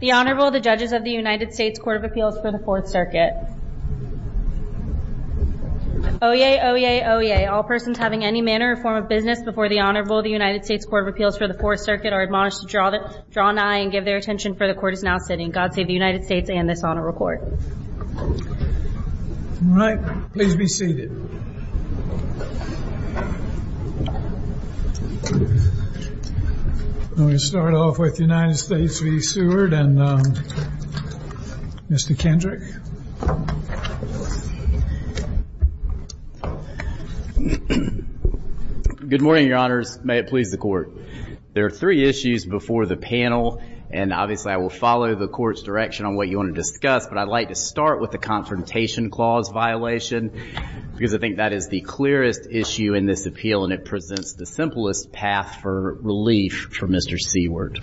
The Honorable, the Judges of the United States Court of Appeals for the Fourth Circuit. Oyez! Oyez! Oyez! All persons having any manner or form of business before the Honorable of the United States Court of Appeals for the Fourth Circuit are admonished to draw an eye and give their attention for the Court is now sitting. God save the United States and this Honorable Court. All right, please be seated. I'm going to start off with the United States v. Seward and Mr. Kendrick. Good morning, Your Honors. May it please the Court. There are three issues before the panel and obviously I will follow the Court's direction on what you want to discuss, but I'd like to start with the Confrontation Clause violation because I think that is the clearest issue in this appeal and it presents the simplest path for relief for Mr. Seward.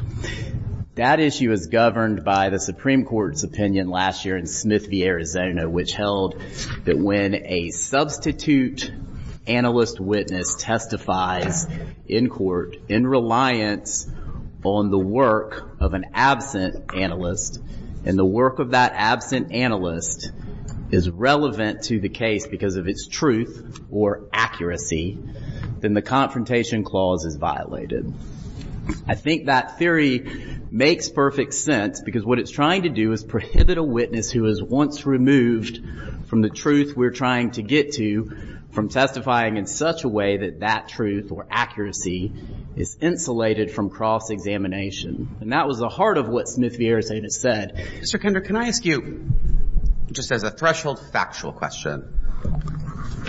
That issue is governed by the Supreme Court's opinion last year in Smith v. Arizona, which held that when a substitute analyst witness testifies in court in reliance on the work of an absent analyst is relevant to the case because of its truth or accuracy, then the Confrontation Clause is violated. I think that theory makes perfect sense because what it's trying to do is prohibit a witness who is once removed from the truth we're trying to get to from testifying in such a way that that truth or accuracy is insulated from cross-examination. And that was the heart of what Smith v. Arizona said. Mr. Kendrick, can I ask you, just as a threshold factual question,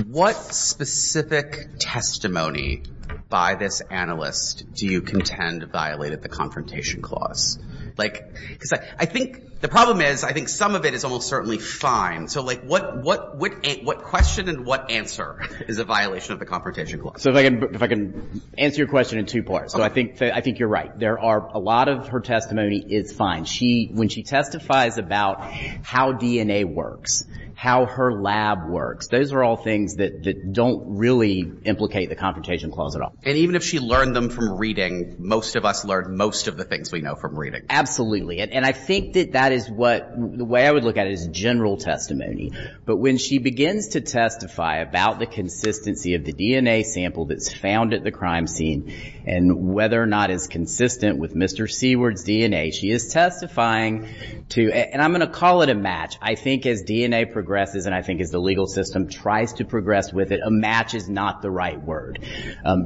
what specific testimony by this analyst do you contend violated the Confrontation Clause? Because I think the problem is I think some of it is almost certainly fine. So what question and what answer is a violation of the Confrontation Clause? So if I can answer your question in two parts. I think you're right. There are a lot of her testimony is fine. When she testifies about how DNA works, how her lab works, those are all things that don't really implicate the Confrontation Clause at all. And even if she learned them from reading, most of us learn most of the things we know from reading. Absolutely. And I think that that is what the way I would look at it is general testimony. But when she begins to testify about the consistency of the DNA sample that's found at the crime scene and whether or not it's consistent with Mr. Seward's DNA, she is testifying to, and I'm going to call it a match. I think as DNA progresses, and I think as the legal system tries to progress with it, a match is not the right word.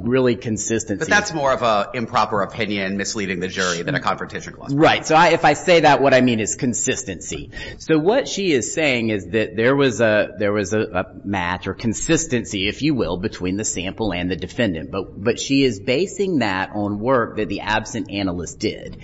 Really consistency. But that's more of an improper opinion misleading the jury than a Confrontation Clause. Right. So if I say that, what I mean is consistency. So what she is saying is that there was a match or consistency, if you will, between the sample and the defendant. But she is basing that on work that the absent analyst did.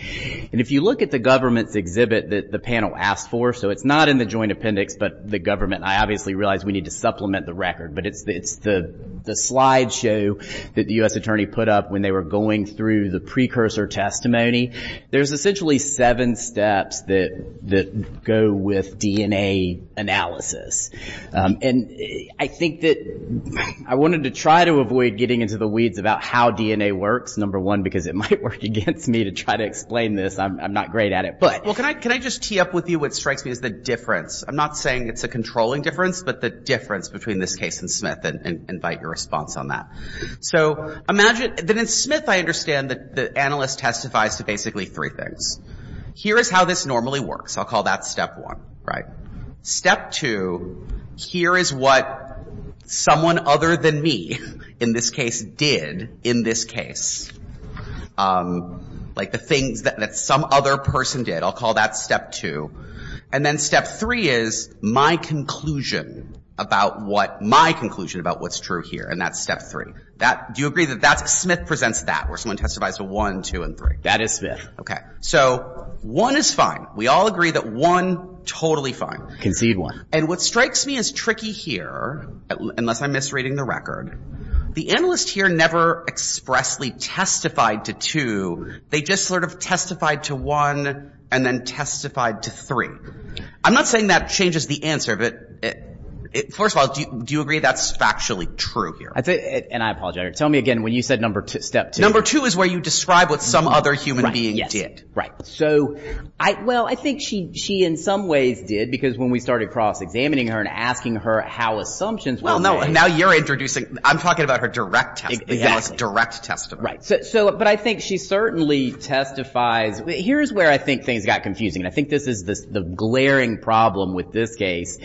And if you look at the government's exhibit that the panel asked for, so it's not in the joint appendix, but the government, I obviously realize we need to supplement the record, but it's the slide show that the U.S. Attorney put up when they were going through the precursor testimony. There's essentially seven steps that go with DNA analysis. And I think that I wanted to try to avoid getting into the weeds about how DNA works, number one, because it might work against me to try to explain this. I'm not great at it. Well, can I just tee up with you? What strikes me is the difference. I'm not saying it's a controlling difference, but the difference between this case and Smith, and invite your response on that. So imagine that in Smith I understand that the analyst testifies to basically three things. Here is how this normally works. I'll call that step one, right? Step two, here is what someone other than me in this case did in this case, like the things that some other person did. I'll call that step two. And then step three is my conclusion about what my conclusion about what's true here, and that's step three. Do you agree that that's Smith presents that, where someone testifies to one, two, and three? That is Smith. Okay. So one is fine. We all agree that one, totally fine. Concede one. And what strikes me as tricky here, unless I'm misreading the record, the analyst here never expressly testified to two. They just sort of testified to one and then testified to three. I'm not saying that changes the answer, but first of all, do you agree that's factually true here? And I apologize. Tell me again when you said number two, step two. Number two is where you describe what some other human being did. Right. So, well, I think she in some ways did, because when we started cross-examining her and asking her how assumptions were made. Well, no, now you're introducing, I'm talking about her direct test, the analyst's direct testimony. Right. So, but I think she certainly testifies. Here's where I think things got confusing, and I think this is the glaring problem with this case,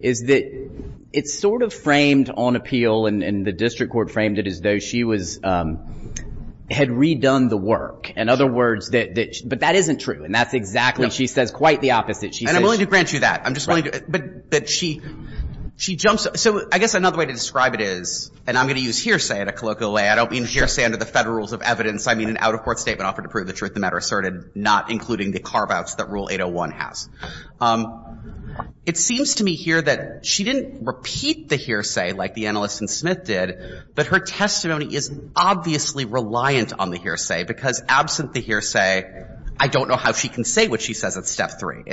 is that it's sort of framed on appeal and the district court framed it as though she was, had redone the work. In other words, that, but that isn't true. And that's exactly, she says quite the opposite. And I'm willing to grant you that. I'm just willing to, but that she, she jumps, so I guess another way to describe it is, and I'm going to use hearsay at a colloquial way. I don't mean hearsay under the federal rules of evidence. I mean an out-of-court statement that offered to prove the truth of the matter asserted, not including the carve-outs that Rule 801 has. It seems to me here that she didn't repeat the hearsay like the analyst in Smith did, but her testimony is obviously reliant on the hearsay, because absent the hearsay, I don't know how she can say what she says at step three.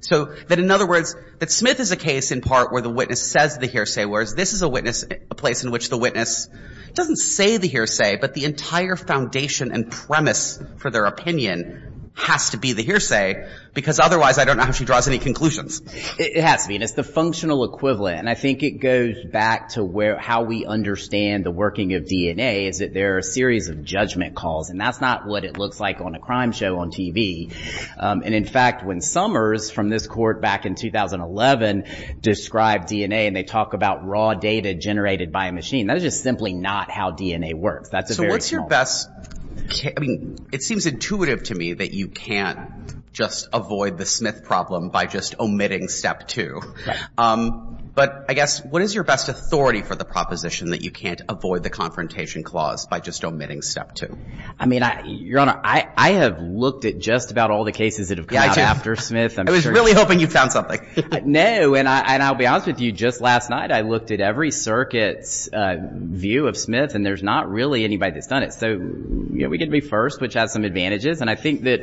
So that in other words, that Smith is a case in part where the witness says the hearsay, whereas this is a witness, a place in which the witness doesn't say the hearsay, but the entire foundation and premise for their opinion has to be the hearsay, because otherwise I don't know how she draws any conclusions. It has to be, and it's the functional equivalent. And I think it goes back to where, how we understand the working of DNA is that there are a series of judgment calls, and that's not what it looks like on a crime show on TV. And in fact, when Summers from this court back in 2011 described DNA and they talk about raw data generated by a machine, that is just simply not how DNA works. So what's your best, I mean, it seems intuitive to me that you can't just avoid the Smith problem by just omitting step two. But I guess, what is your best authority for the proposition that you can't avoid the confrontation clause by just omitting step two? I mean, Your Honor, I have looked at just about all the cases that have come out after Smith. I was really hoping you found something. No, and I'll be honest with you, just last night, I looked at every circuit's view of Smith, and there's not really anybody that's done it. So, you know, we get to be first, which has some advantages. And I think that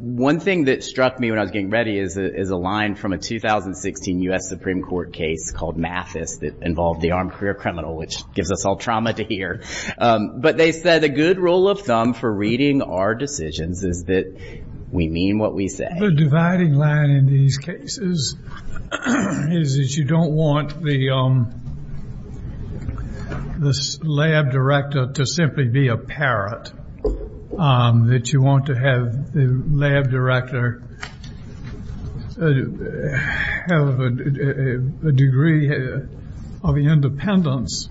one thing that struck me when I was getting ready is a line from a 2016 U.S. Supreme Court case called Mathis that involved the armed career criminal, which gives us all trauma to hear. But they said, a good rule of thumb for reading our decisions is that we mean what we say. The dividing line in these cases is that you don't want the lab director to simply be a parrot, that you want to have the lab director have a degree of independence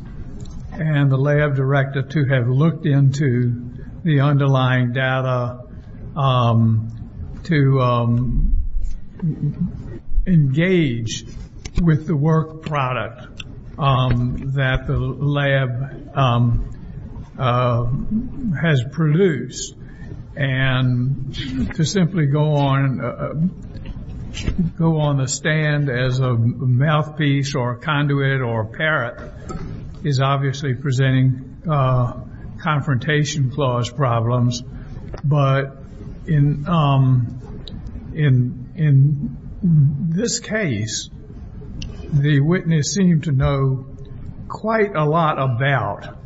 and the lab director to have looked into the underlying data, to engage with the work product that the lab has produced, and to simply go on the stand as a mouthpiece or a conduit or a parrot is obviously presenting confrontation clause problems. But in this case, the witness seemed to know quite a lot about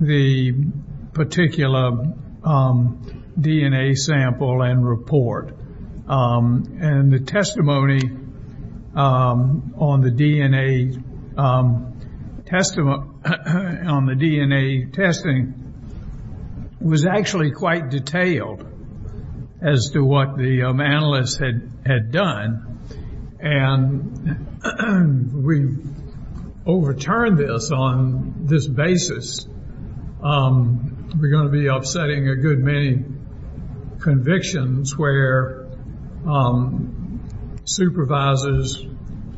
the particular DNA sample and report. And the testimony on the DNA testing was actually quite detailed as to what the analysts had done. And we overturned this on this basis. We're going to be upsetting a good many convictions where supervisors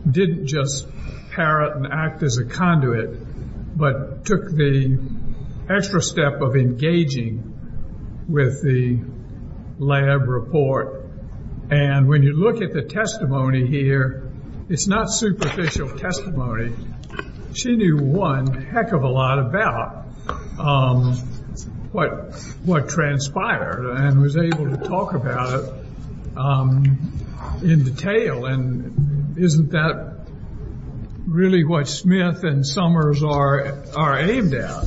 didn't just parrot and act as a conduit, but took the extra step of engaging with the lab report. And when you look at the testimony here, it's not superficial testimony. She knew one heck of a lot about what transpired and was able to talk about it in detail. And isn't that really what Smith and Summers are aimed at?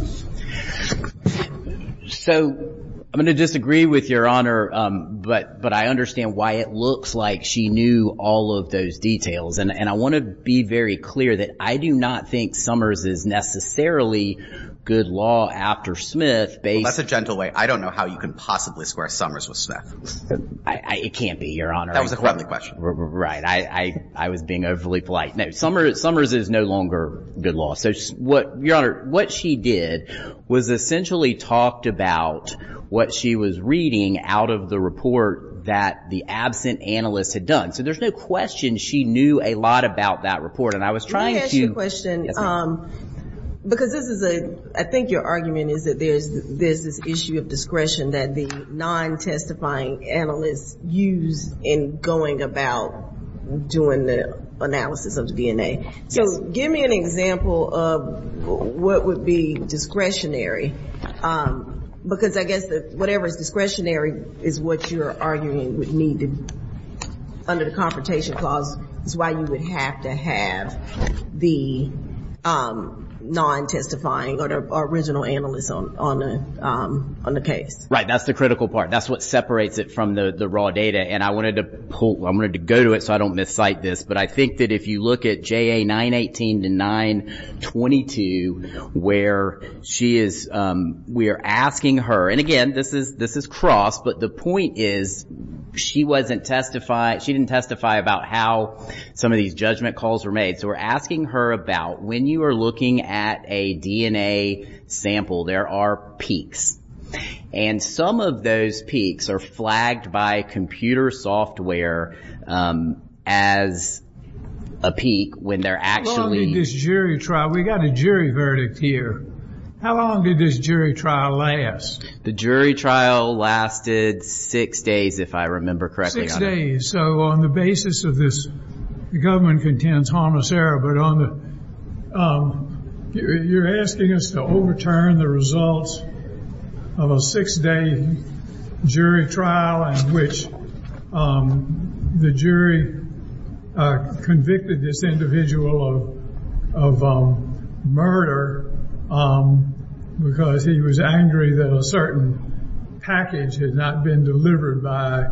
So I'm going to disagree with your honor, but I understand why it looks like she knew all of those details. And I want to be very clear that I do not think Summers is necessarily good law after Smith. That's a gentle way. I don't know how you can possibly square Summers with Smith. It can't be, your honor. That was a corrupting question. Right. I was being overly polite. No, Summers is no longer good law. So, your honor, what she did was essentially talked about what she was reading out of the report that the absent analysts had done. So there's no question she knew a lot about that report. And I was trying to Let me ask you a question. Yes, ma'am. Because this is a, I think your argument is that there's this issue of discretion that the non-testifying analysts use in going about doing the analysis of the DNA. Yes. So give me an example of what would be discretionary. Because I guess that whatever is discretionary is what you're arguing would need under the Confrontation Clause. That's why you would have to have the non-testifying or the original analysts on the case. Right. That's the critical part. That's what separates it from the raw data. And I wanted to pull, I wanted to go to it so I don't miscite this. But I think that if you look at JA 918 to 922 where she is, we are asking her. And again, this is cross, but the point is she wasn't testify, she didn't testify about how some of these judgment calls were made. So we're asking her about when you are looking at a DNA sample, there are peaks. And some of those peaks are flagged by computer software as a peak when they're actually How long did this jury trial, we got a jury verdict here. How long did this jury trial last? The jury trial lasted six days, if I remember correctly. Six days. So on the basis of this, the government contends harmless error. But on the, you're asking us to overturn the results of a six-day jury trial in which the jury convicted this individual of murder because he was angry that a certain package had not been delivered by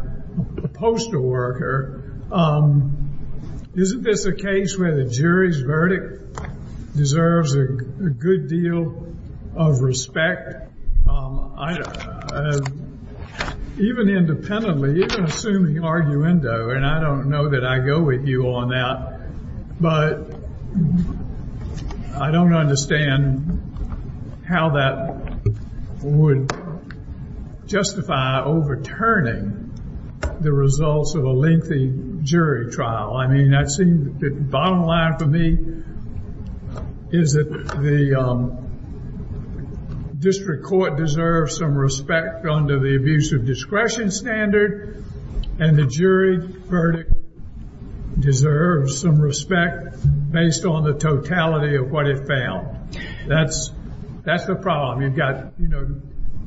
a postal worker. Isn't this a case where the jury's verdict deserves a good deal of respect? Even independently, even assuming arguendo, and I don't know that I go with you on that, but I don't understand how that would justify overturning the results of a lengthy jury trial. The bottom line for me is that the district court deserves some respect under the abuse of discretion standard, and the jury verdict deserves some respect based on the totality of what it found. That's the problem. You've got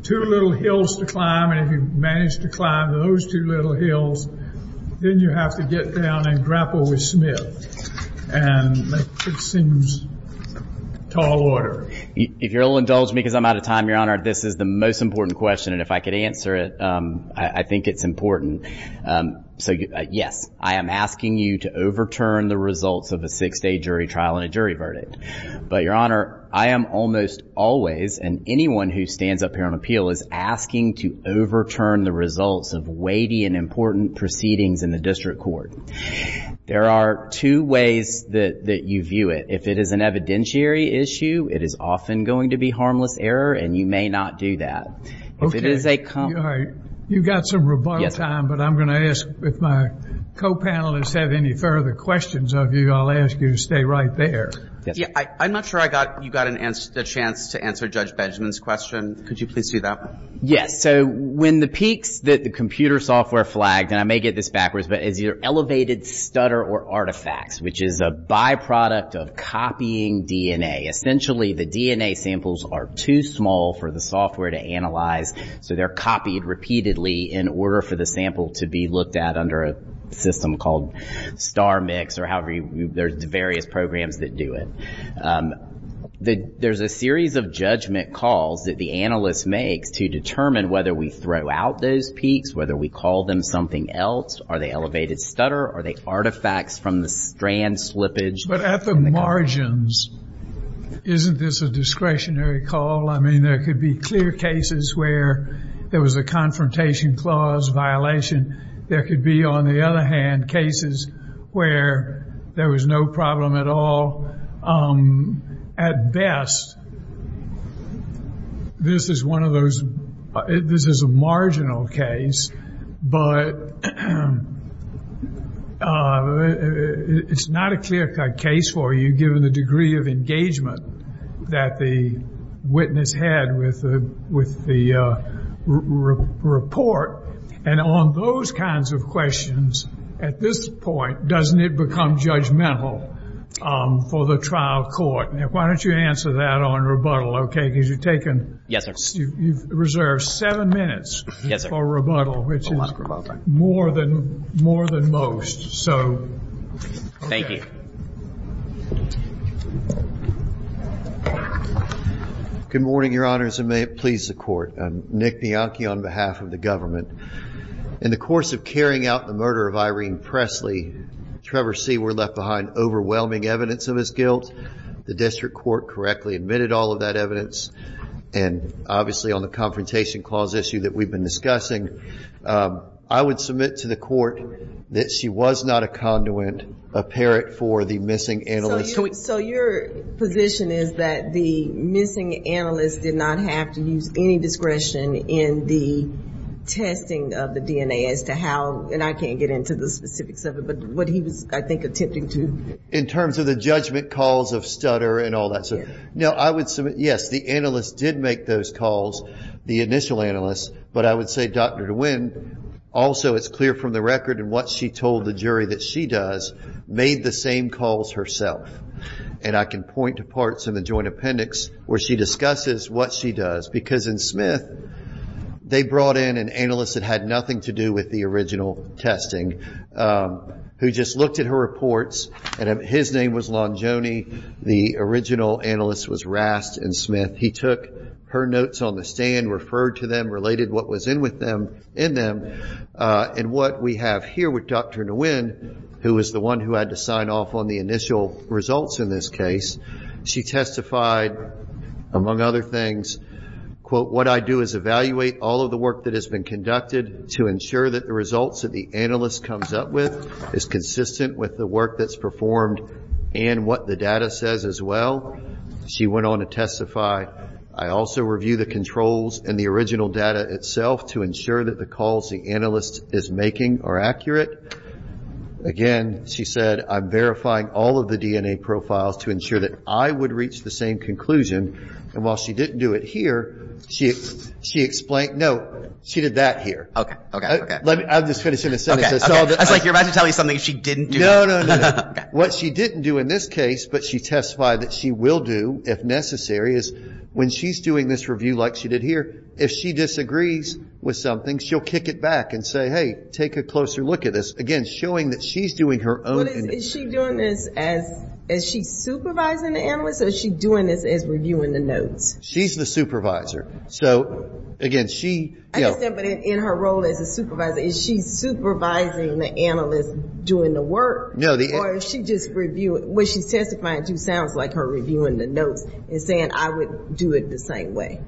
two little hills to climb, and if you manage to climb those two little hills, then you have to get down and grapple with Smith, and it seems tall order. If you'll indulge me, because I'm out of time, Your Honor, this is the most important question, and if I could answer it, I think it's important. So, yes, I am asking you to overturn the results of a six-day jury trial and a jury verdict. But, Your Honor, I am almost always, and anyone who stands up here on appeal is asking to overturn the results of weighty and important proceedings in the district court. There are two ways that you view it. If it is an evidentiary issue, it is often going to be harmless error, and you may not do that. Okay. You've got some rebuttal time, but I'm going to ask, if my co-panelists have any further questions of you, I'll ask you to stay right there. I'm not sure you got a chance to answer Judge Benjamin's question. Could you please do that? Yes. So when the peaks that the computer software flagged, and I may get this backwards, but it's either elevated stutter or artifacts, which is a byproduct of copying DNA. Essentially, the DNA samples are too small for the software to analyze, so they're copied repeatedly in order for the sample to be looked at under a system called StarMix or however there's various programs that do it. There's a series of judgment calls that the analyst makes to determine whether we throw out those peaks, whether we call them something else. Are they elevated stutter? Are they artifacts from the strand slippage? But at the margins, isn't this a discretionary call? I mean, there could be clear cases where there was a confrontation clause violation. There could be, on the other hand, cases where there was no problem at all. At best, this is one of those, this is a marginal case, but it's not a clear cut case for you given the degree of engagement that the witness had with the report. And on those kinds of questions, at this point, doesn't it become judgmental for the trial court? Why don't you answer that on rebuttal, okay? Because you've reserved seven minutes for rebuttal, which is more than most. Thank you. Good morning, Your Honors, and may it please the Court. I'm Nick Bianchi on behalf of the government. In the course of carrying out the murder of Irene Presley, Trevor See were left behind overwhelming evidence of his guilt. The district court correctly admitted all of that evidence, and obviously on the confrontation clause issue that we've been discussing, I would submit to the Court that she was not a conduit, a parrot for the missing analyst. So your position is that the missing analyst did not have to use any discretion in the testing of the DNA as to how, and I can't get into the specifics of it, but what he was, I think, attempting to. In terms of the judgment calls of stutter and all that sort of thing? Yes. Now, I would submit, yes, the analyst did make those calls, the initial analyst, but I would say Dr. DeWin also, it's clear from the record in what she told the jury that she does, made the same calls herself, and I can point to parts in the joint appendix where she discusses what she does, because in Smith, they brought in an analyst that had nothing to do with the original testing, who just looked at her reports, and his name was Longione, the original analyst was Rast, and Smith, he took her notes on the stand, referred to them, related what was in them, and what we have here with Dr. DeWin, who was the one who had to sign off on the initial results in this case, she testified, among other things, quote, what I do is evaluate all of the work that has been conducted to ensure that the results that the analyst comes up with is consistent with the work that's performed and what the data says as well. She went on to testify, I also review the controls and the original data itself to ensure that the calls the analyst is making are accurate. Again, she said, I'm verifying all of the DNA profiles to ensure that I would reach the same conclusion, and while she didn't do it here, she explained, no, she did that here. Okay, okay, okay. I'll just finish in a sentence. Okay, okay. I was like, you're about to tell me something she didn't do. No, no, no. What she didn't do in this case, but she testified that she will do if necessary, is when she's doing this review like she did here, if she disagrees with something, she'll kick it back and say, hey, take a closer look at this. Again, showing that she's doing her own. Is she doing this as, is she supervising the analyst, or is she doing this as reviewing the notes? She's the supervisor. So, again, she. I understand, but in her role as a supervisor, is she supervising the analyst doing the work? Or is she just reviewing, what she's testifying to sounds like her reviewing the notes and saying I would do it the same way.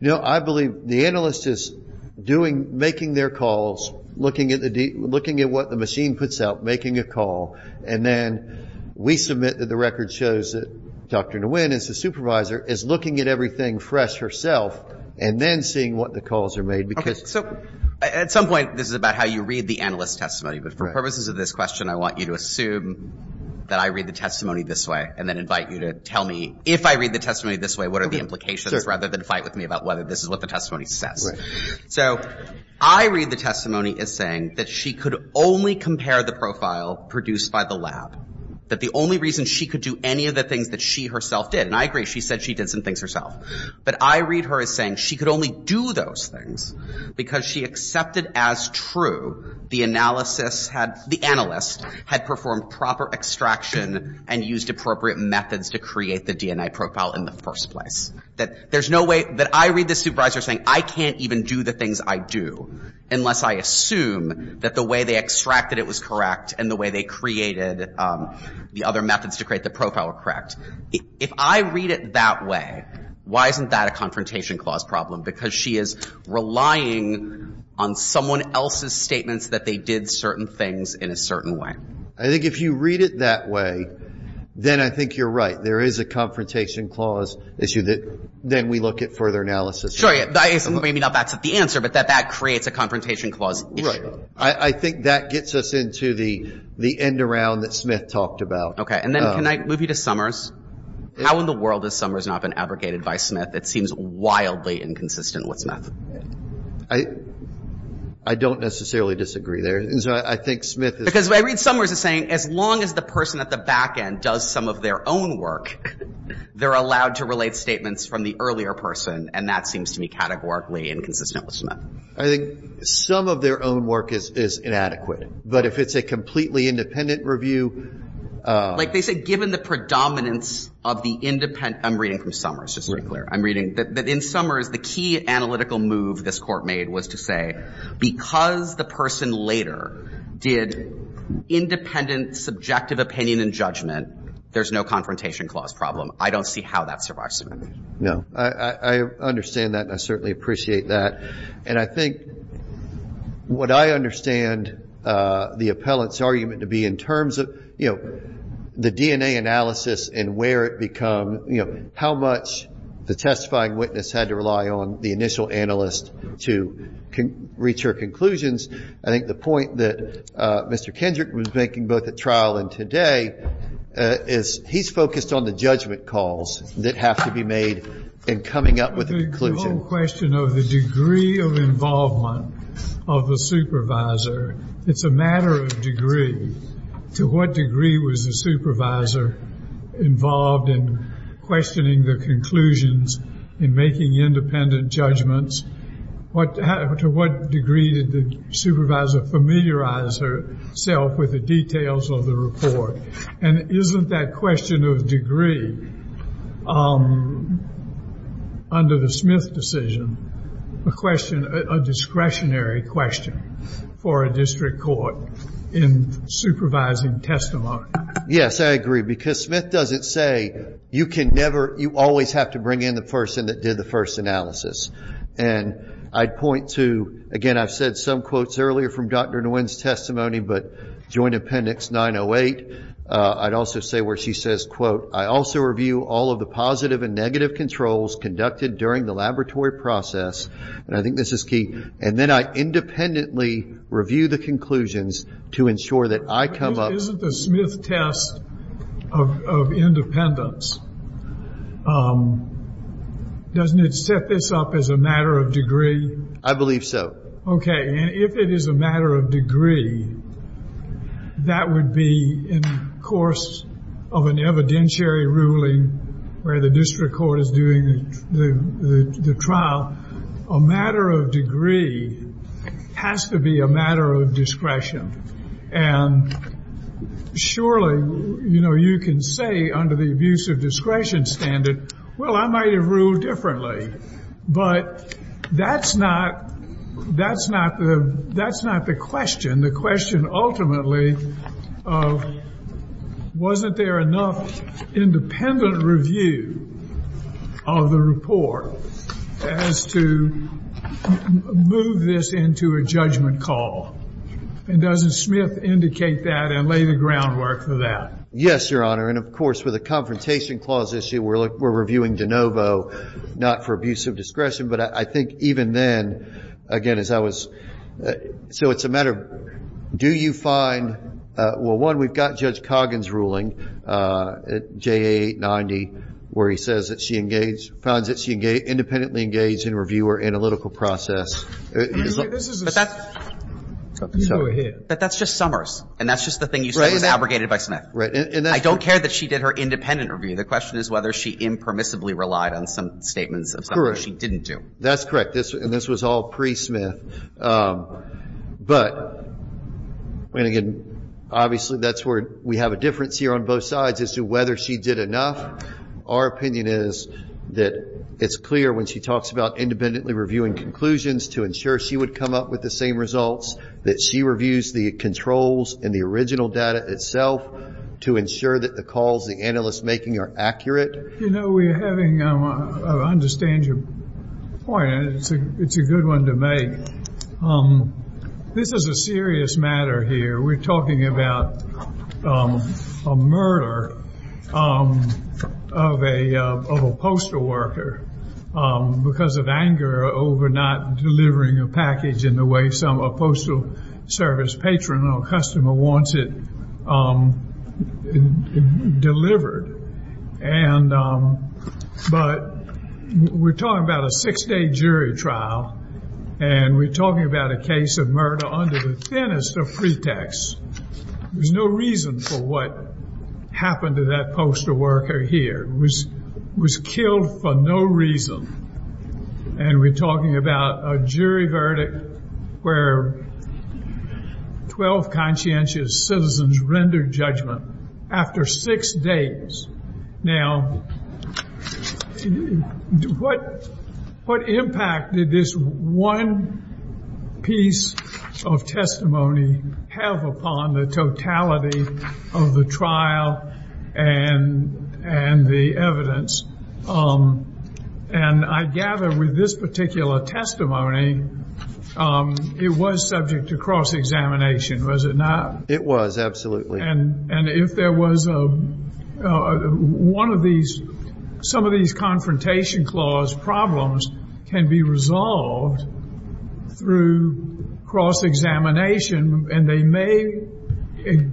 No, I believe the analyst is doing, making their calls, looking at the, looking at what the machine puts out, making a call, and then we submit that the record shows that Dr. Nguyen is the supervisor, is looking at everything fresh herself, and then seeing what the calls are made. Okay, so at some point, this is about how you read the analyst's testimony, but for purposes of this question, I want you to assume that I read the testimony this way, and then invite you to tell me if I read the testimony this way, what are the implications, rather than fight with me about whether this is what the testimony says. So I read the testimony as saying that she could only compare the profile produced by the lab, that the only reason she could do any of the things that she herself did, and I agree, she said she did some things herself, but I read her as saying she could only do those things because she accepted as true the analysis had, the analyst had performed proper extraction and used appropriate methods to create the DNA profile in the first place. That there's no way that I read the supervisor saying I can't even do the things I do, unless I assume that the way they extracted it was correct, and the way they created the other methods to create the profile were correct. If I read it that way, why isn't that a confrontation clause problem? Because she is relying on someone else's statements that they did certain things in a certain way. I think if you read it that way, then I think you're right. There is a confrontation clause issue that then we look at further analysis. Maybe not that's the answer, but that that creates a confrontation clause issue. Right. I think that gets us into the end around that Smith talked about. Okay. And then can I move you to Summers? How in the world has Summers not been abrogated by Smith? That seems wildly inconsistent with Smith. I don't necessarily disagree there. I think Smith is Because I read Summers as saying as long as the person at the back end does some of their own work, they're allowed to relate statements from the earlier person, and that seems to me categorically inconsistent with Smith. I think some of their own work is inadequate. But if it's a completely independent review Like they said, given the predominance of the independent I'm reading from Summers, just to be clear. I'm reading that in Summers, the key analytical move this court made was to say because the person later did independent subjective opinion and judgment, there's no confrontation clause problem. I don't see how that survives Smith. No. I understand that, and I certainly appreciate that. And I think what I understand the appellant's argument to be in terms of, you know, the DNA analysis and where it become, you know, how much the testifying witness had to rely on the initial analyst to reach her conclusions. I think the point that Mr. Kendrick was making both at trial and today is he's focused on the judgment calls that have to be made in coming up with a conclusion. The whole question of the degree of involvement of the supervisor, it's a matter of degree. To what degree was the supervisor involved in questioning the conclusions in making independent judgments? To what degree did the supervisor familiarize herself with the details of the report? And isn't that question of degree under the Smith decision a discretionary question for a district court in supervising testimony? Yes, I agree, because Smith doesn't say you can never, you always have to bring in the person that did the first analysis. And I'd point to, again, I've said some quotes earlier from Dr. Nguyen's testimony, but Joint Appendix 908, I'd also say where she says, quote, I also review all of the positive and negative controls conducted during the laboratory process. And I think this is key. And then I independently review the conclusions to ensure that I come up. Isn't the Smith test of independence, doesn't it set this up as a matter of degree? I believe so. Okay, and if it is a matter of degree, that would be in the course of an evidentiary ruling where the district court is doing the trial. A matter of degree has to be a matter of discretion. And surely, you know, you can say under the abuse of discretion standard, well, I might have ruled differently. But that's not the question. The question ultimately of wasn't there enough independent review of the report as to move this into a judgment call? And doesn't Smith indicate that and lay the groundwork for that? Yes, Your Honor. And, of course, with the Confrontation Clause issue, we're reviewing de novo, not for abuse of discretion. But I think even then, again, as I was, so it's a matter of do you find, well, one, we've got Judge Coggins' ruling, JA 890, where he says that she engaged, finds that she independently engaged in reviewer analytical process. But that's just Summers. And that's just the thing you said was abrogated by Smith. Right. I don't care that she did her independent review. The question is whether she impermissibly relied on some statements of Summers. Or she didn't do. That's correct. And this was all pre-Smith. But, and again, obviously that's where we have a difference here on both sides as to whether she did enough. Our opinion is that it's clear when she talks about independently reviewing conclusions to ensure she would come up with the same results, that she reviews the controls in the original data itself to ensure that the calls the analyst's making are accurate. You know, we're having, I understand your point. It's a good one to make. This is a serious matter here. We're talking about a murder of a postal worker because of anger over not delivering a package in the way some postal service patron or customer wants it delivered. But we're talking about a six-day jury trial and we're talking about a case of murder under the thinnest of pretexts. There's no reason for what happened to that postal worker here. It was killed for no reason. And we're talking about a jury verdict where 12 conscientious citizens rendered judgment after six days. Now, what impact did this one piece of testimony have upon the totality of the trial and the evidence? And I gather with this particular testimony, it was subject to cross-examination, was it not? It was, absolutely. And if there was one of these, some of these confrontation clause problems can be resolved through cross-examination and they may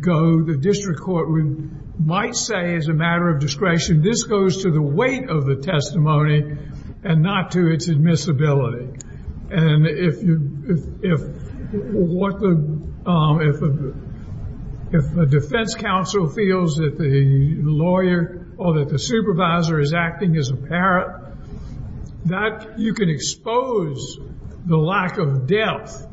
go, the district court might say as a matter of discretion, this goes to the weight of the testimony and not to its admissibility. And if a defense counsel feels that the lawyer or that the supervisor is acting as a parrot, that you can expose the lack of depth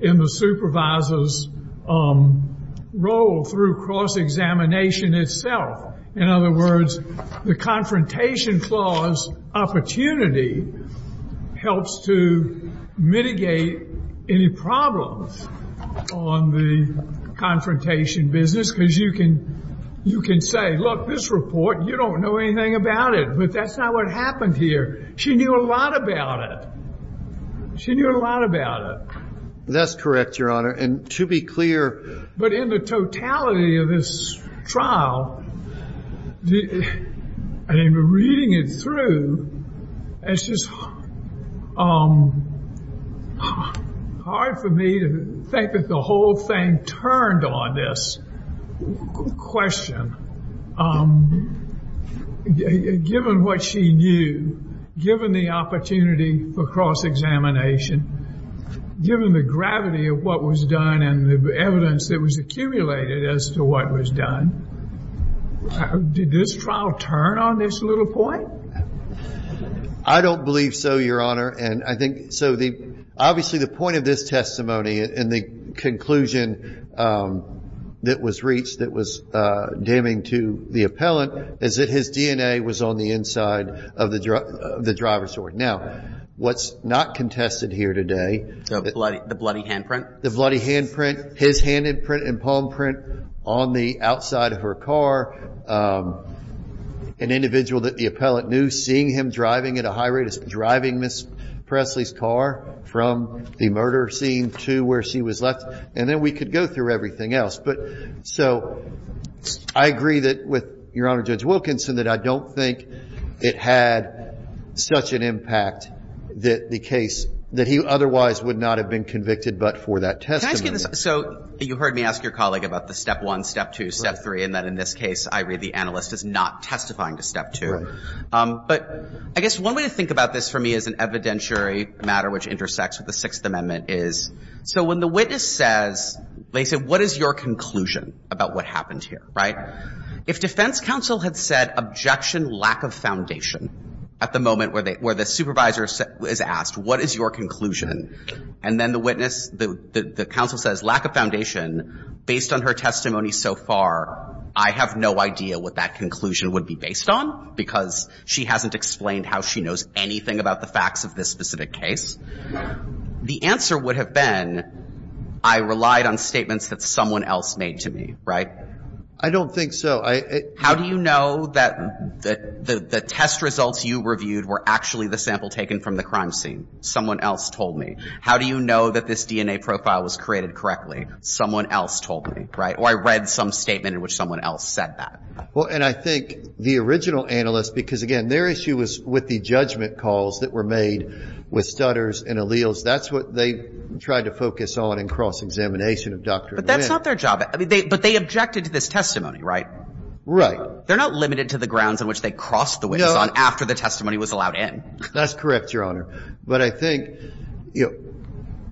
in the supervisor's role through cross-examination itself. In other words, the confrontation clause opportunity helps to mitigate any problems on the confrontation business because you can say, look, this report, you don't know anything about it, but that's not what happened here. She knew a lot about it. She knew a lot about it. That's correct, Your Honor. But in the totality of this trial, reading it through, it's just hard for me to think that the whole thing turned on this question. Given what she knew, given the opportunity for cross-examination, given the gravity of what was done and the evidence that was accumulated as to what was done, did this trial turn on this little point? I don't believe so, Your Honor. And I think, so obviously the point of this testimony and the conclusion that was reached that was damning to the appellant is that his DNA was on the inside of the driver's door. Now, what's not contested here today... The bloody handprint? The bloody handprint, his handprint and palm print on the outside of her car. An individual that the appellant knew, seeing him driving at a high rate, driving Ms. Presley's car from the murder scene to where she was left, and then we could go through everything else. But so I agree that with Your Honor, Judge Wilkinson, that I don't think it had such an impact that the case, that he otherwise would not have been convicted but for that testimony. Can I ask you this? So you heard me ask your colleague about the step one, step two, step three, and that in this case I read the analyst as not testifying to step two. Right. But I guess one way to think about this for me as an evidentiary matter which intersects with the Sixth Amendment is, so when the witness says, they say, what is your conclusion about what happened here, right? If defense counsel had said, objection, lack of foundation, at the moment where the supervisor is asked, what is your conclusion? And then the witness, the counsel says, lack of foundation, based on her testimony so far I have no idea what that conclusion would be based on because she hasn't explained how she knows anything about the facts of this specific case. The answer would have been, I relied on statements that someone else made to me, right? I don't think so. How do you know that the test results you reviewed were actually the sample taken from the crime scene? Someone else told me. How do you know that this DNA profile was created correctly? Someone else told me, right? Or I read some statement in which someone else said that. Well, and I think the original analyst, because, again, their issue was with the judgment calls that were made with stutters and alleles. That's what they tried to focus on in cross-examination of Dr. Nguyen. But that's not their job. But they objected to this testimony, right? Right. They're not limited to the grounds on which they crossed the witnesses on after the testimony was allowed in. That's correct, Your Honor. But I think, you know,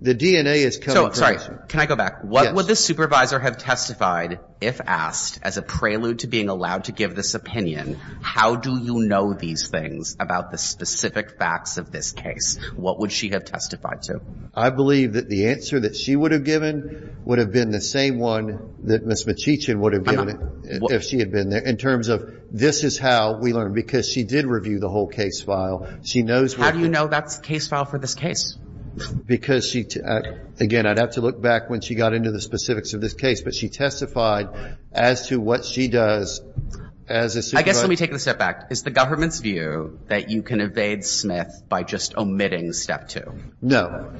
the DNA is coming from this. So, sorry, can I go back? Yes. What would the supervisor have testified if asked as a prelude to being allowed to give this opinion, how do you know these things about the specific facts of this case? What would she have testified to? I believe that the answer that she would have given would have been the same one that Ms. Mcheechan would have given if she had been there in terms of this is how we learned, because she did review the whole case file. How do you know that's the case file for this case? Because, again, I'd have to look back when she got into the specifics of this case. But she testified as to what she does as a supervisor. I guess let me take a step back. Is the government's view that you can evade Smith by just omitting Step 2? No.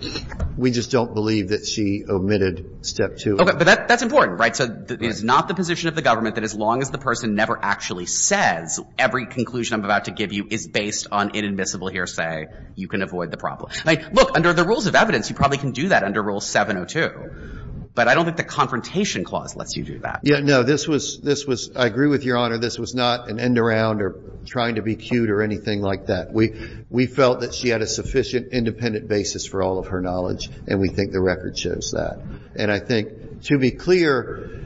We just don't believe that she omitted Step 2. Okay. But that's important, right? So it's not the position of the government that as long as the person never actually says every conclusion I'm about to give you is based on inadmissible hearsay, you can avoid the problem. I mean, look, under the rules of evidence, you probably can do that under Rule 702. But I don't think the Confrontation Clause lets you do that. Yeah. No. This was — I agree with Your Honor. This was not an end-around or trying to be cute or anything like that. We felt that she had a sufficient independent basis for all of her knowledge, and we think the record shows that. And I think, to be clear,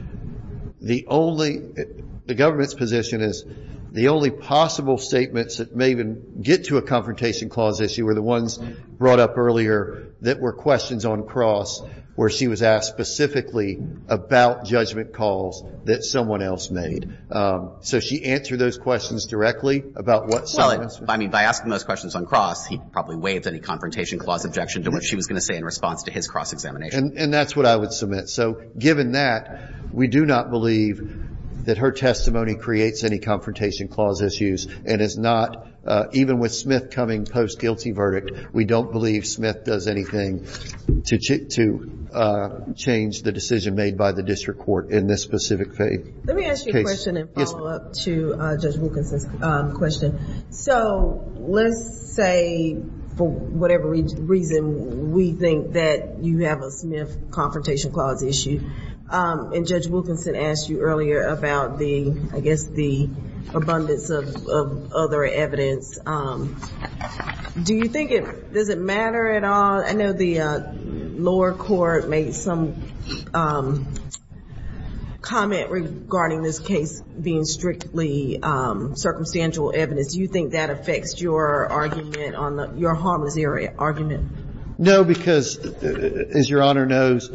the only — the government's position is the only possible statements that may even get to a Confrontation Clause issue are the ones brought up earlier that were questions on cross where she was asked specifically about judgment calls that someone else made. So she answered those questions directly about what someone else was — Well, I mean, by asking those questions on cross, he probably waived any Confrontation Clause objection to what she was going to say in response to his cross-examination. And that's what I would submit. So given that, we do not believe that her testimony creates any Confrontation Clause issues and is not — even with Smith coming post-guilty verdict, we don't believe Smith does anything to change the decision made by the district court in this specific case. Let me ask you a question and follow up to Judge Wilkinson's question. So let's say, for whatever reason, we think that you have a Smith Confrontation Clause issue, and Judge Wilkinson asked you earlier about the — I guess the abundance of other evidence. Do you think it — does it matter at all? I know the lower court made some comment regarding this case being strictly circumstantial evidence. Do you think that affects your argument on the — your harmless argument? No, because, as Your Honor knows,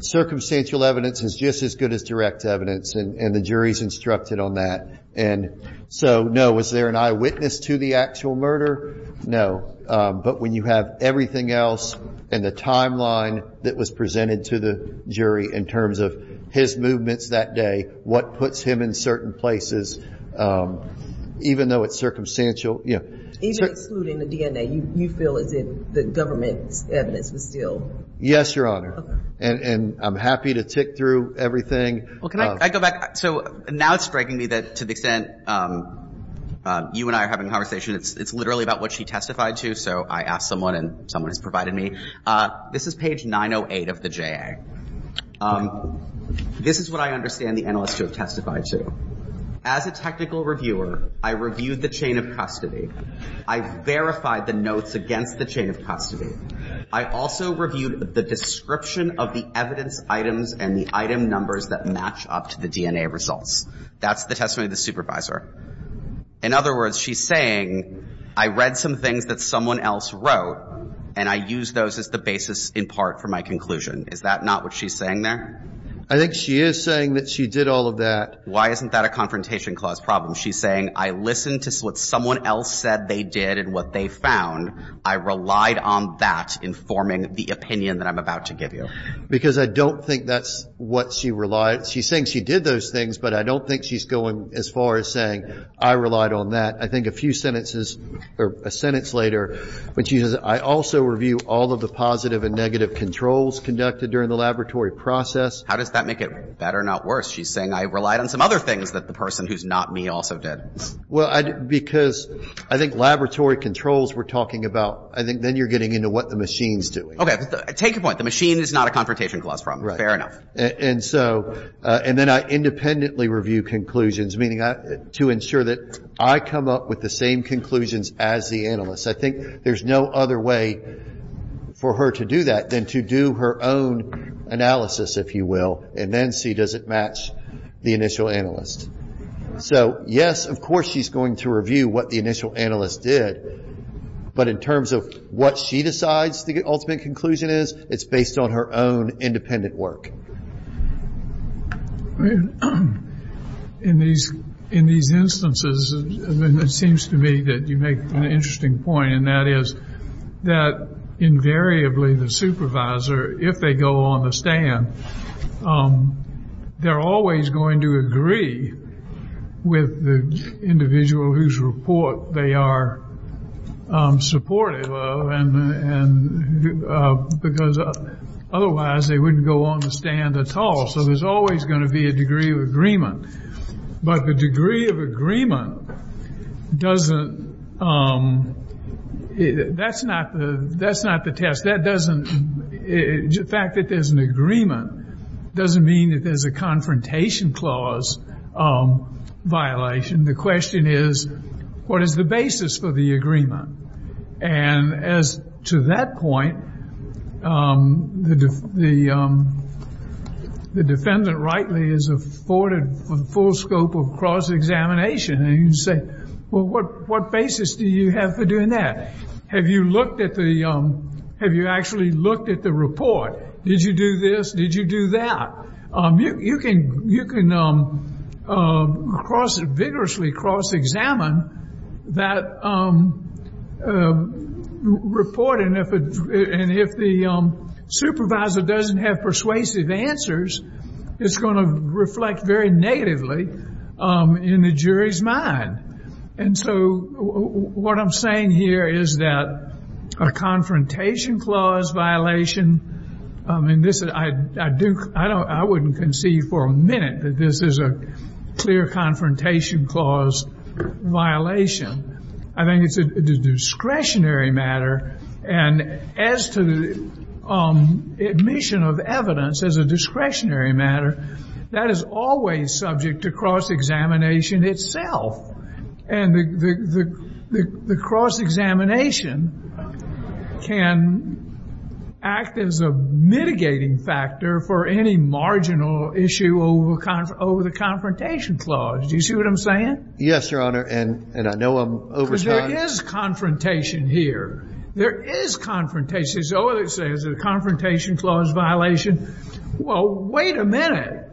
circumstantial evidence is just as good as direct evidence, and the jury's instructed on that. And so, no, was there an eyewitness to the actual murder? No. But when you have everything else and the timeline that was presented to the jury in terms of his movements that day, what puts him in certain places, even though it's circumstantial — Even excluding the DNA, you feel as if the government's evidence was still — Yes, Your Honor. And I'm happy to tick through everything. Well, can I go back? So now it's striking me that, to the extent you and I are having a conversation, it's literally about what she testified to. So I asked someone, and someone has provided me. This is page 908 of the JA. This is what I understand the analysts who have testified to. As a technical reviewer, I reviewed the chain of custody. I verified the notes against the chain of custody. I also reviewed the description of the evidence items and the item numbers that match up to the DNA results. That's the testimony of the supervisor. In other words, she's saying, I read some things that someone else wrote, and I used those as the basis, in part, for my conclusion. Is that not what she's saying there? I think she is saying that she did all of that. Why isn't that a Confrontation Clause problem? She's saying, I listened to what someone else said they did and what they found. I relied on that informing the opinion that I'm about to give you. Because I don't think that's what she relied. She's saying she did those things, but I don't think she's going as far as saying, I relied on that. I think a few sentences or a sentence later, when she says, I also review all of the positive and negative controls conducted during the laboratory process. How does that make it better, not worse? She's saying, I relied on some other things that the person who's not me also did. Well, because I think laboratory controls we're talking about, I think then you're getting into what the machine's doing. Okay. Take your point. The machine is not a Confrontation Clause problem. Fair enough. And so, and then I independently review conclusions, meaning to ensure that I come up with the same conclusions as the analyst. I think there's no other way for her to do that than to do her own analysis, if you will, and then see does it match the initial analyst. So, yes, of course she's going to review what the initial analyst did. But in terms of what she decides the ultimate conclusion is, it's based on her own independent work. In these instances, it seems to me that you make an interesting point, and that is that invariably the supervisor, if they go on the stand, they're always going to agree with the individual whose report they are supportive of, because otherwise they wouldn't go on the stand at all. So there's always going to be a degree of agreement. But the degree of agreement doesn't, that's not the test. That doesn't, the fact that there's an agreement doesn't mean that there's a Confrontation Clause violation. The question is, what is the basis for the agreement? And as to that point, the defendant rightly is afforded full scope of cross-examination. And you say, well, what basis do you have for doing that? Have you looked at the, have you actually looked at the report? Did you do this? Did you do that? You can vigorously cross-examine that report, and if the supervisor doesn't have persuasive answers, it's going to reflect very negatively in the jury's mind. And so what I'm saying here is that a Confrontation Clause violation, and I wouldn't concede for a minute that this is a clear Confrontation Clause violation. I think it's a discretionary matter, and as to the admission of evidence as a discretionary matter, that is always subject to cross-examination itself. And the cross-examination can act as a mitigating factor for any marginal issue over the Confrontation Clause. Do you see what I'm saying? Yes, Your Honor, and I know I'm over time. Because there is confrontation here. There is confrontation. Oh, they say it's a Confrontation Clause violation. Well, wait a minute.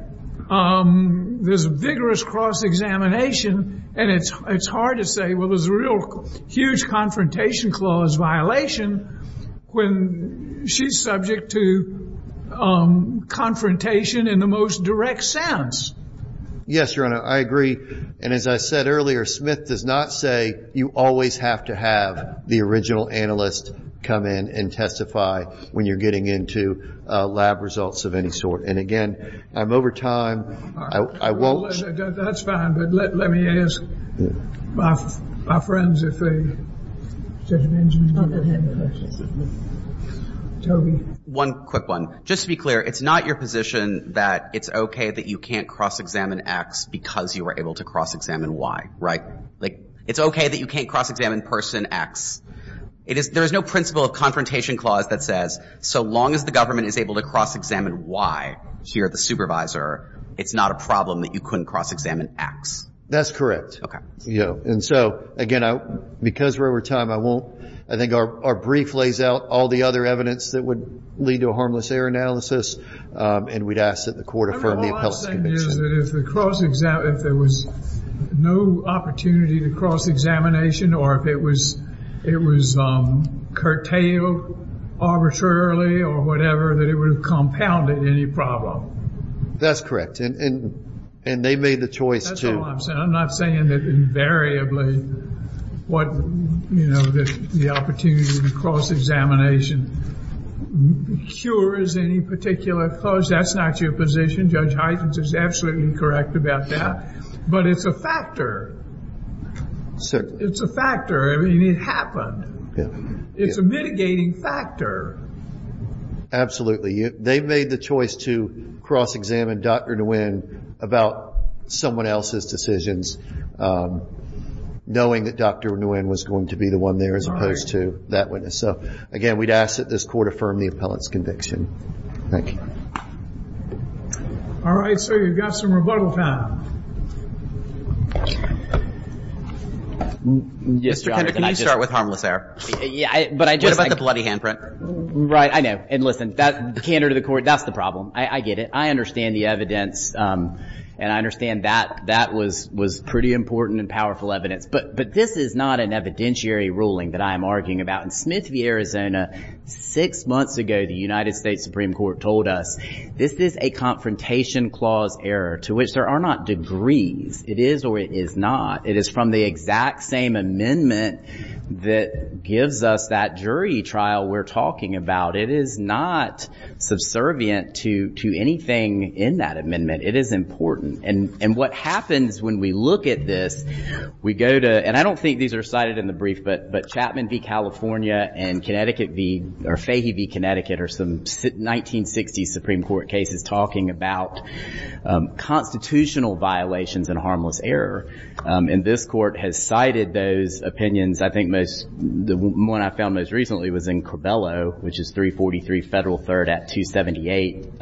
There's vigorous cross-examination, and it's hard to say, well, there's a real huge Confrontation Clause violation when she's subject to confrontation in the most direct sense. Yes, Your Honor, I agree. And as I said earlier, Smith does not say you always have to have the original analyst come in and testify when you're getting into lab results of any sort. And again, I'm over time. I won't. That's fine. But let me ask my friends if they have any questions. Toby. One quick one. Just to be clear, it's not your position that it's okay that you can't cross-examine X because you were able to cross-examine Y, right? Like, it's okay that you can't cross-examine person X. There is no principle of Confrontation Clause that says so long as the government is able to cross-examine Y here at the supervisor, it's not a problem that you couldn't cross-examine X. That's correct. Okay. And so, again, because we're over time, I won't. I think our brief lays out all the other evidence that would lead to a harmless error analysis, and we'd ask that the Court affirm the appellate's conviction. My last thing is that if there was no opportunity to cross-examination or if it was curtailed arbitrarily or whatever, that it would have compounded any problem. That's correct. And they made the choice to. That's all I'm saying. I'm not saying that invariably what, you know, the opportunity to cross-examination cures any particular clause. That's not your position. Judge Huygens is absolutely correct about that. But it's a factor. It's a factor. I mean, it happened. It's a mitigating factor. They made the choice to cross-examine Dr. Nguyen about someone else's decisions, knowing that Dr. Nguyen was going to be the one there as opposed to that witness. So, again, we'd ask that this Court affirm the appellate's conviction. Thank you. All right, sir, you've got some rebuttal time. Mr. Kander, can you start with harmless error? What about the bloody handprint? Right, I know. And, listen, Kander to the Court, that's the problem. I get it. I understand the evidence, and I understand that that was pretty important and powerful evidence. But this is not an evidentiary ruling that I am arguing about. In Smith v. Arizona, six months ago the United States Supreme Court told us, this is a confrontation clause error to which there are not degrees. It is or it is not. It is from the exact same amendment that gives us that jury trial we're talking about. It is not subservient to anything in that amendment. It is important. And what happens when we look at this, we go to, and I don't think these are cited in the brief, but Chapman v. California and Fahey v. Connecticut are some 1960s Supreme Court cases talking about constitutional violations and harmless error. And this Court has cited those opinions. I think the one I found most recently was in Corbello, which is 343 Federal 3rd at 278.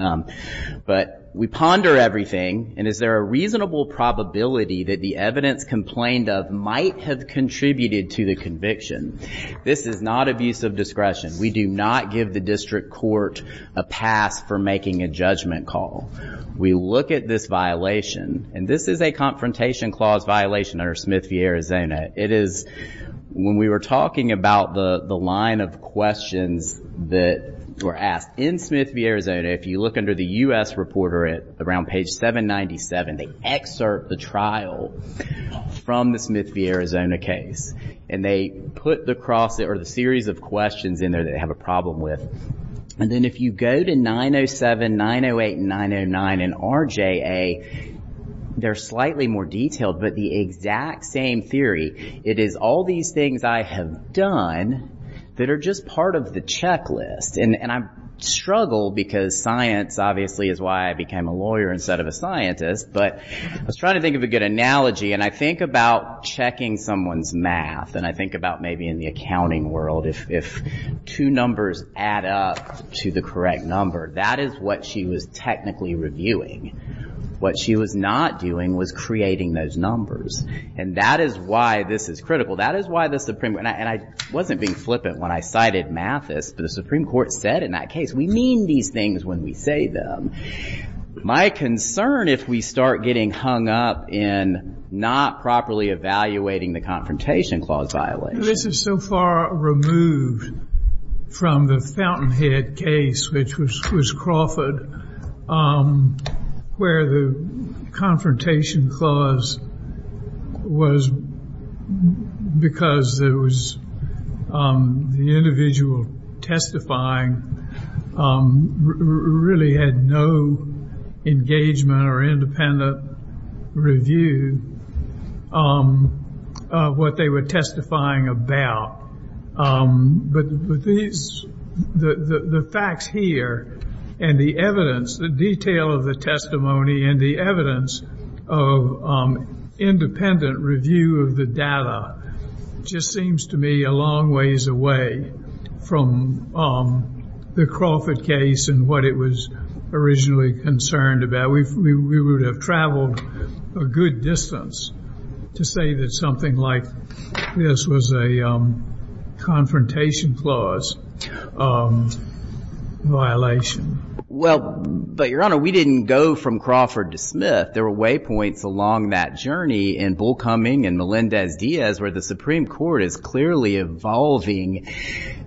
But we ponder everything, and is there a reasonable probability that the evidence complained of might have contributed to the conviction? This is not abuse of discretion. We do not give the district court a pass for making a judgment call. We look at this violation, and this is a confrontation clause violation under Smith v. Arizona. It is, when we were talking about the line of questions that were asked in Smith v. Arizona, if you look under the U.S. Reporter at around page 797, they excerpt the trial from the Smith v. Arizona case. And they put the cross, or the series of questions in there that they have a problem with. And then if you go to 907, 908, and 909 in RJA, they're slightly more detailed, but the exact same theory. It is all these things I have done that are just part of the checklist. And I struggle, because science, obviously, is why I became a lawyer instead of a scientist. But I was trying to think of a good analogy, and I think about checking someone's math. And I think about maybe in the accounting world, if two numbers add up to the correct number, that is what she was technically reviewing. What she was not doing was creating those numbers. And that is why this is critical. And I wasn't being flippant when I cited Mathis, but the Supreme Court said in that case, we mean these things when we say them. My concern, if we start getting hung up in not properly evaluating the Confrontation Clause violation. This is so far removed from the Fountainhead case, which was Crawford, where the Confrontation Clause was because the individual testifying really had no engagement or independent review of what they were testifying about. But the facts here, and the evidence, the detail of the testimony, and the evidence of independent review of the data, just seems to me a long ways away from the Crawford case and what it was originally concerned about. We would have traveled a good distance to say that something like this was a Confrontation Clause violation. Well, but Your Honor, we didn't go from Crawford to Smith. There were waypoints along that journey in Bullcoming and Melendez-Diaz where the Supreme Court is clearly evolving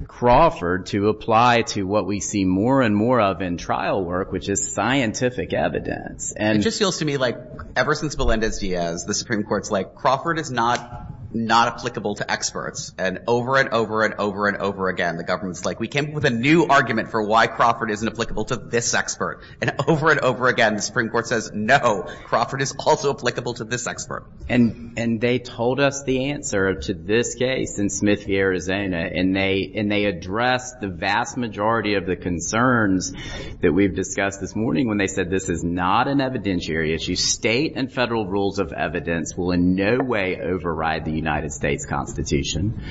Crawford to apply to what we see more and more of in trial work, which is scientific evidence. It just feels to me like ever since Melendez-Diaz, the Supreme Court is like Crawford is not applicable to experts. And over and over and over and over again, the government is like we came up with a new argument for why Crawford isn't applicable to this expert. And over and over again, the Supreme Court says no, Crawford is also applicable to this expert. And they told us the answer to this case in Smith v. Arizona, and they addressed the vast majority of the concerns that we've discussed this morning when they said this is not an evidentiary issue. State and Federal rules of evidence will in no way override the United States Constitution.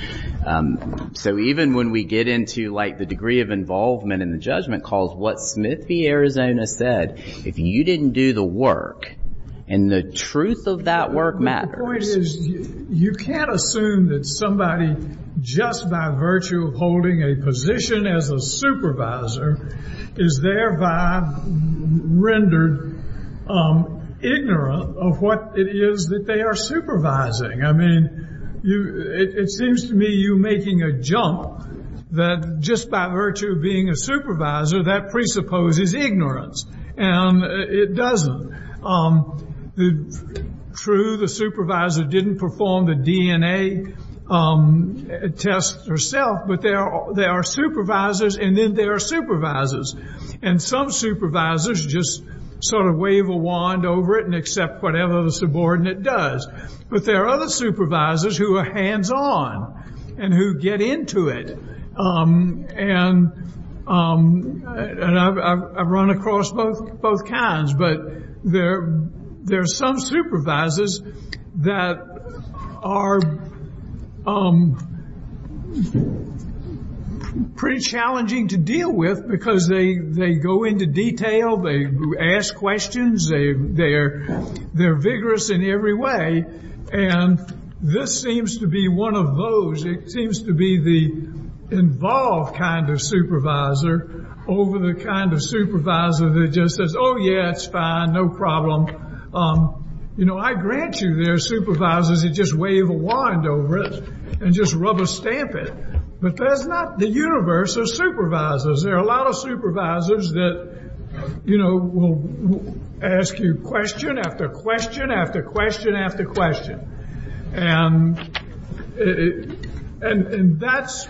So even when we get into like the degree of involvement in the judgment calls what Smith v. Arizona said, if you didn't do the work and the truth of that work matters. The point is you can't assume that somebody just by virtue of holding a position as a supervisor is thereby rendered ignorant of what it is that they are supervising. I mean, it seems to me you're making a jump that just by virtue of being a supervisor, that presupposes ignorance. And it doesn't. True, the supervisor didn't perform the DNA test herself, but there are supervisors, and then there are supervisors. And some supervisors just sort of wave a wand over it and accept whatever the subordinate does. But there are other supervisors who are hands-on and who get into it. And I've run across both kinds. But there are some supervisors that are pretty challenging to deal with because they go into detail. They ask questions. They're vigorous in every way. And this seems to be one of those. It seems to be the involved kind of supervisor over the kind of supervisor that just says, oh, yeah, it's fine. No problem. I grant you there are supervisors that just wave a wand over it and just rubber stamp it. But that's not the universe of supervisors. There are a lot of supervisors that will ask you question after question after question after question. And that's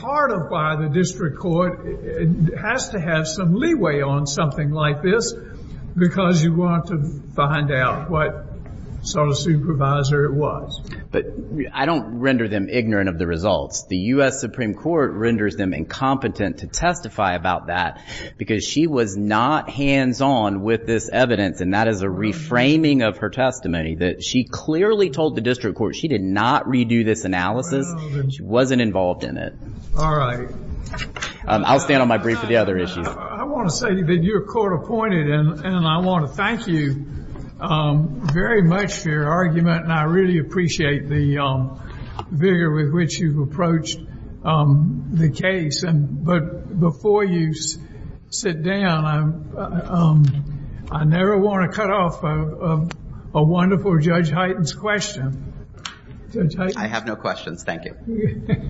part of why the district court has to have some leeway on something like this because you want to find out what sort of supervisor it was. But I don't render them ignorant of the results. The U.S. Supreme Court renders them incompetent to testify about that because she was not hands-on with this evidence. And that is a reframing of her testimony, that she clearly told the district court she did not redo this analysis. She wasn't involved in it. All right. I'll stand on my brief for the other issues. I want to say that you're court-appointed, and I want to thank you very much for your argument. And I really appreciate the vigor with which you've approached the case. But before you sit down, I never want to cut off a wonderful Judge Hyten's question. I have no questions. Thank you.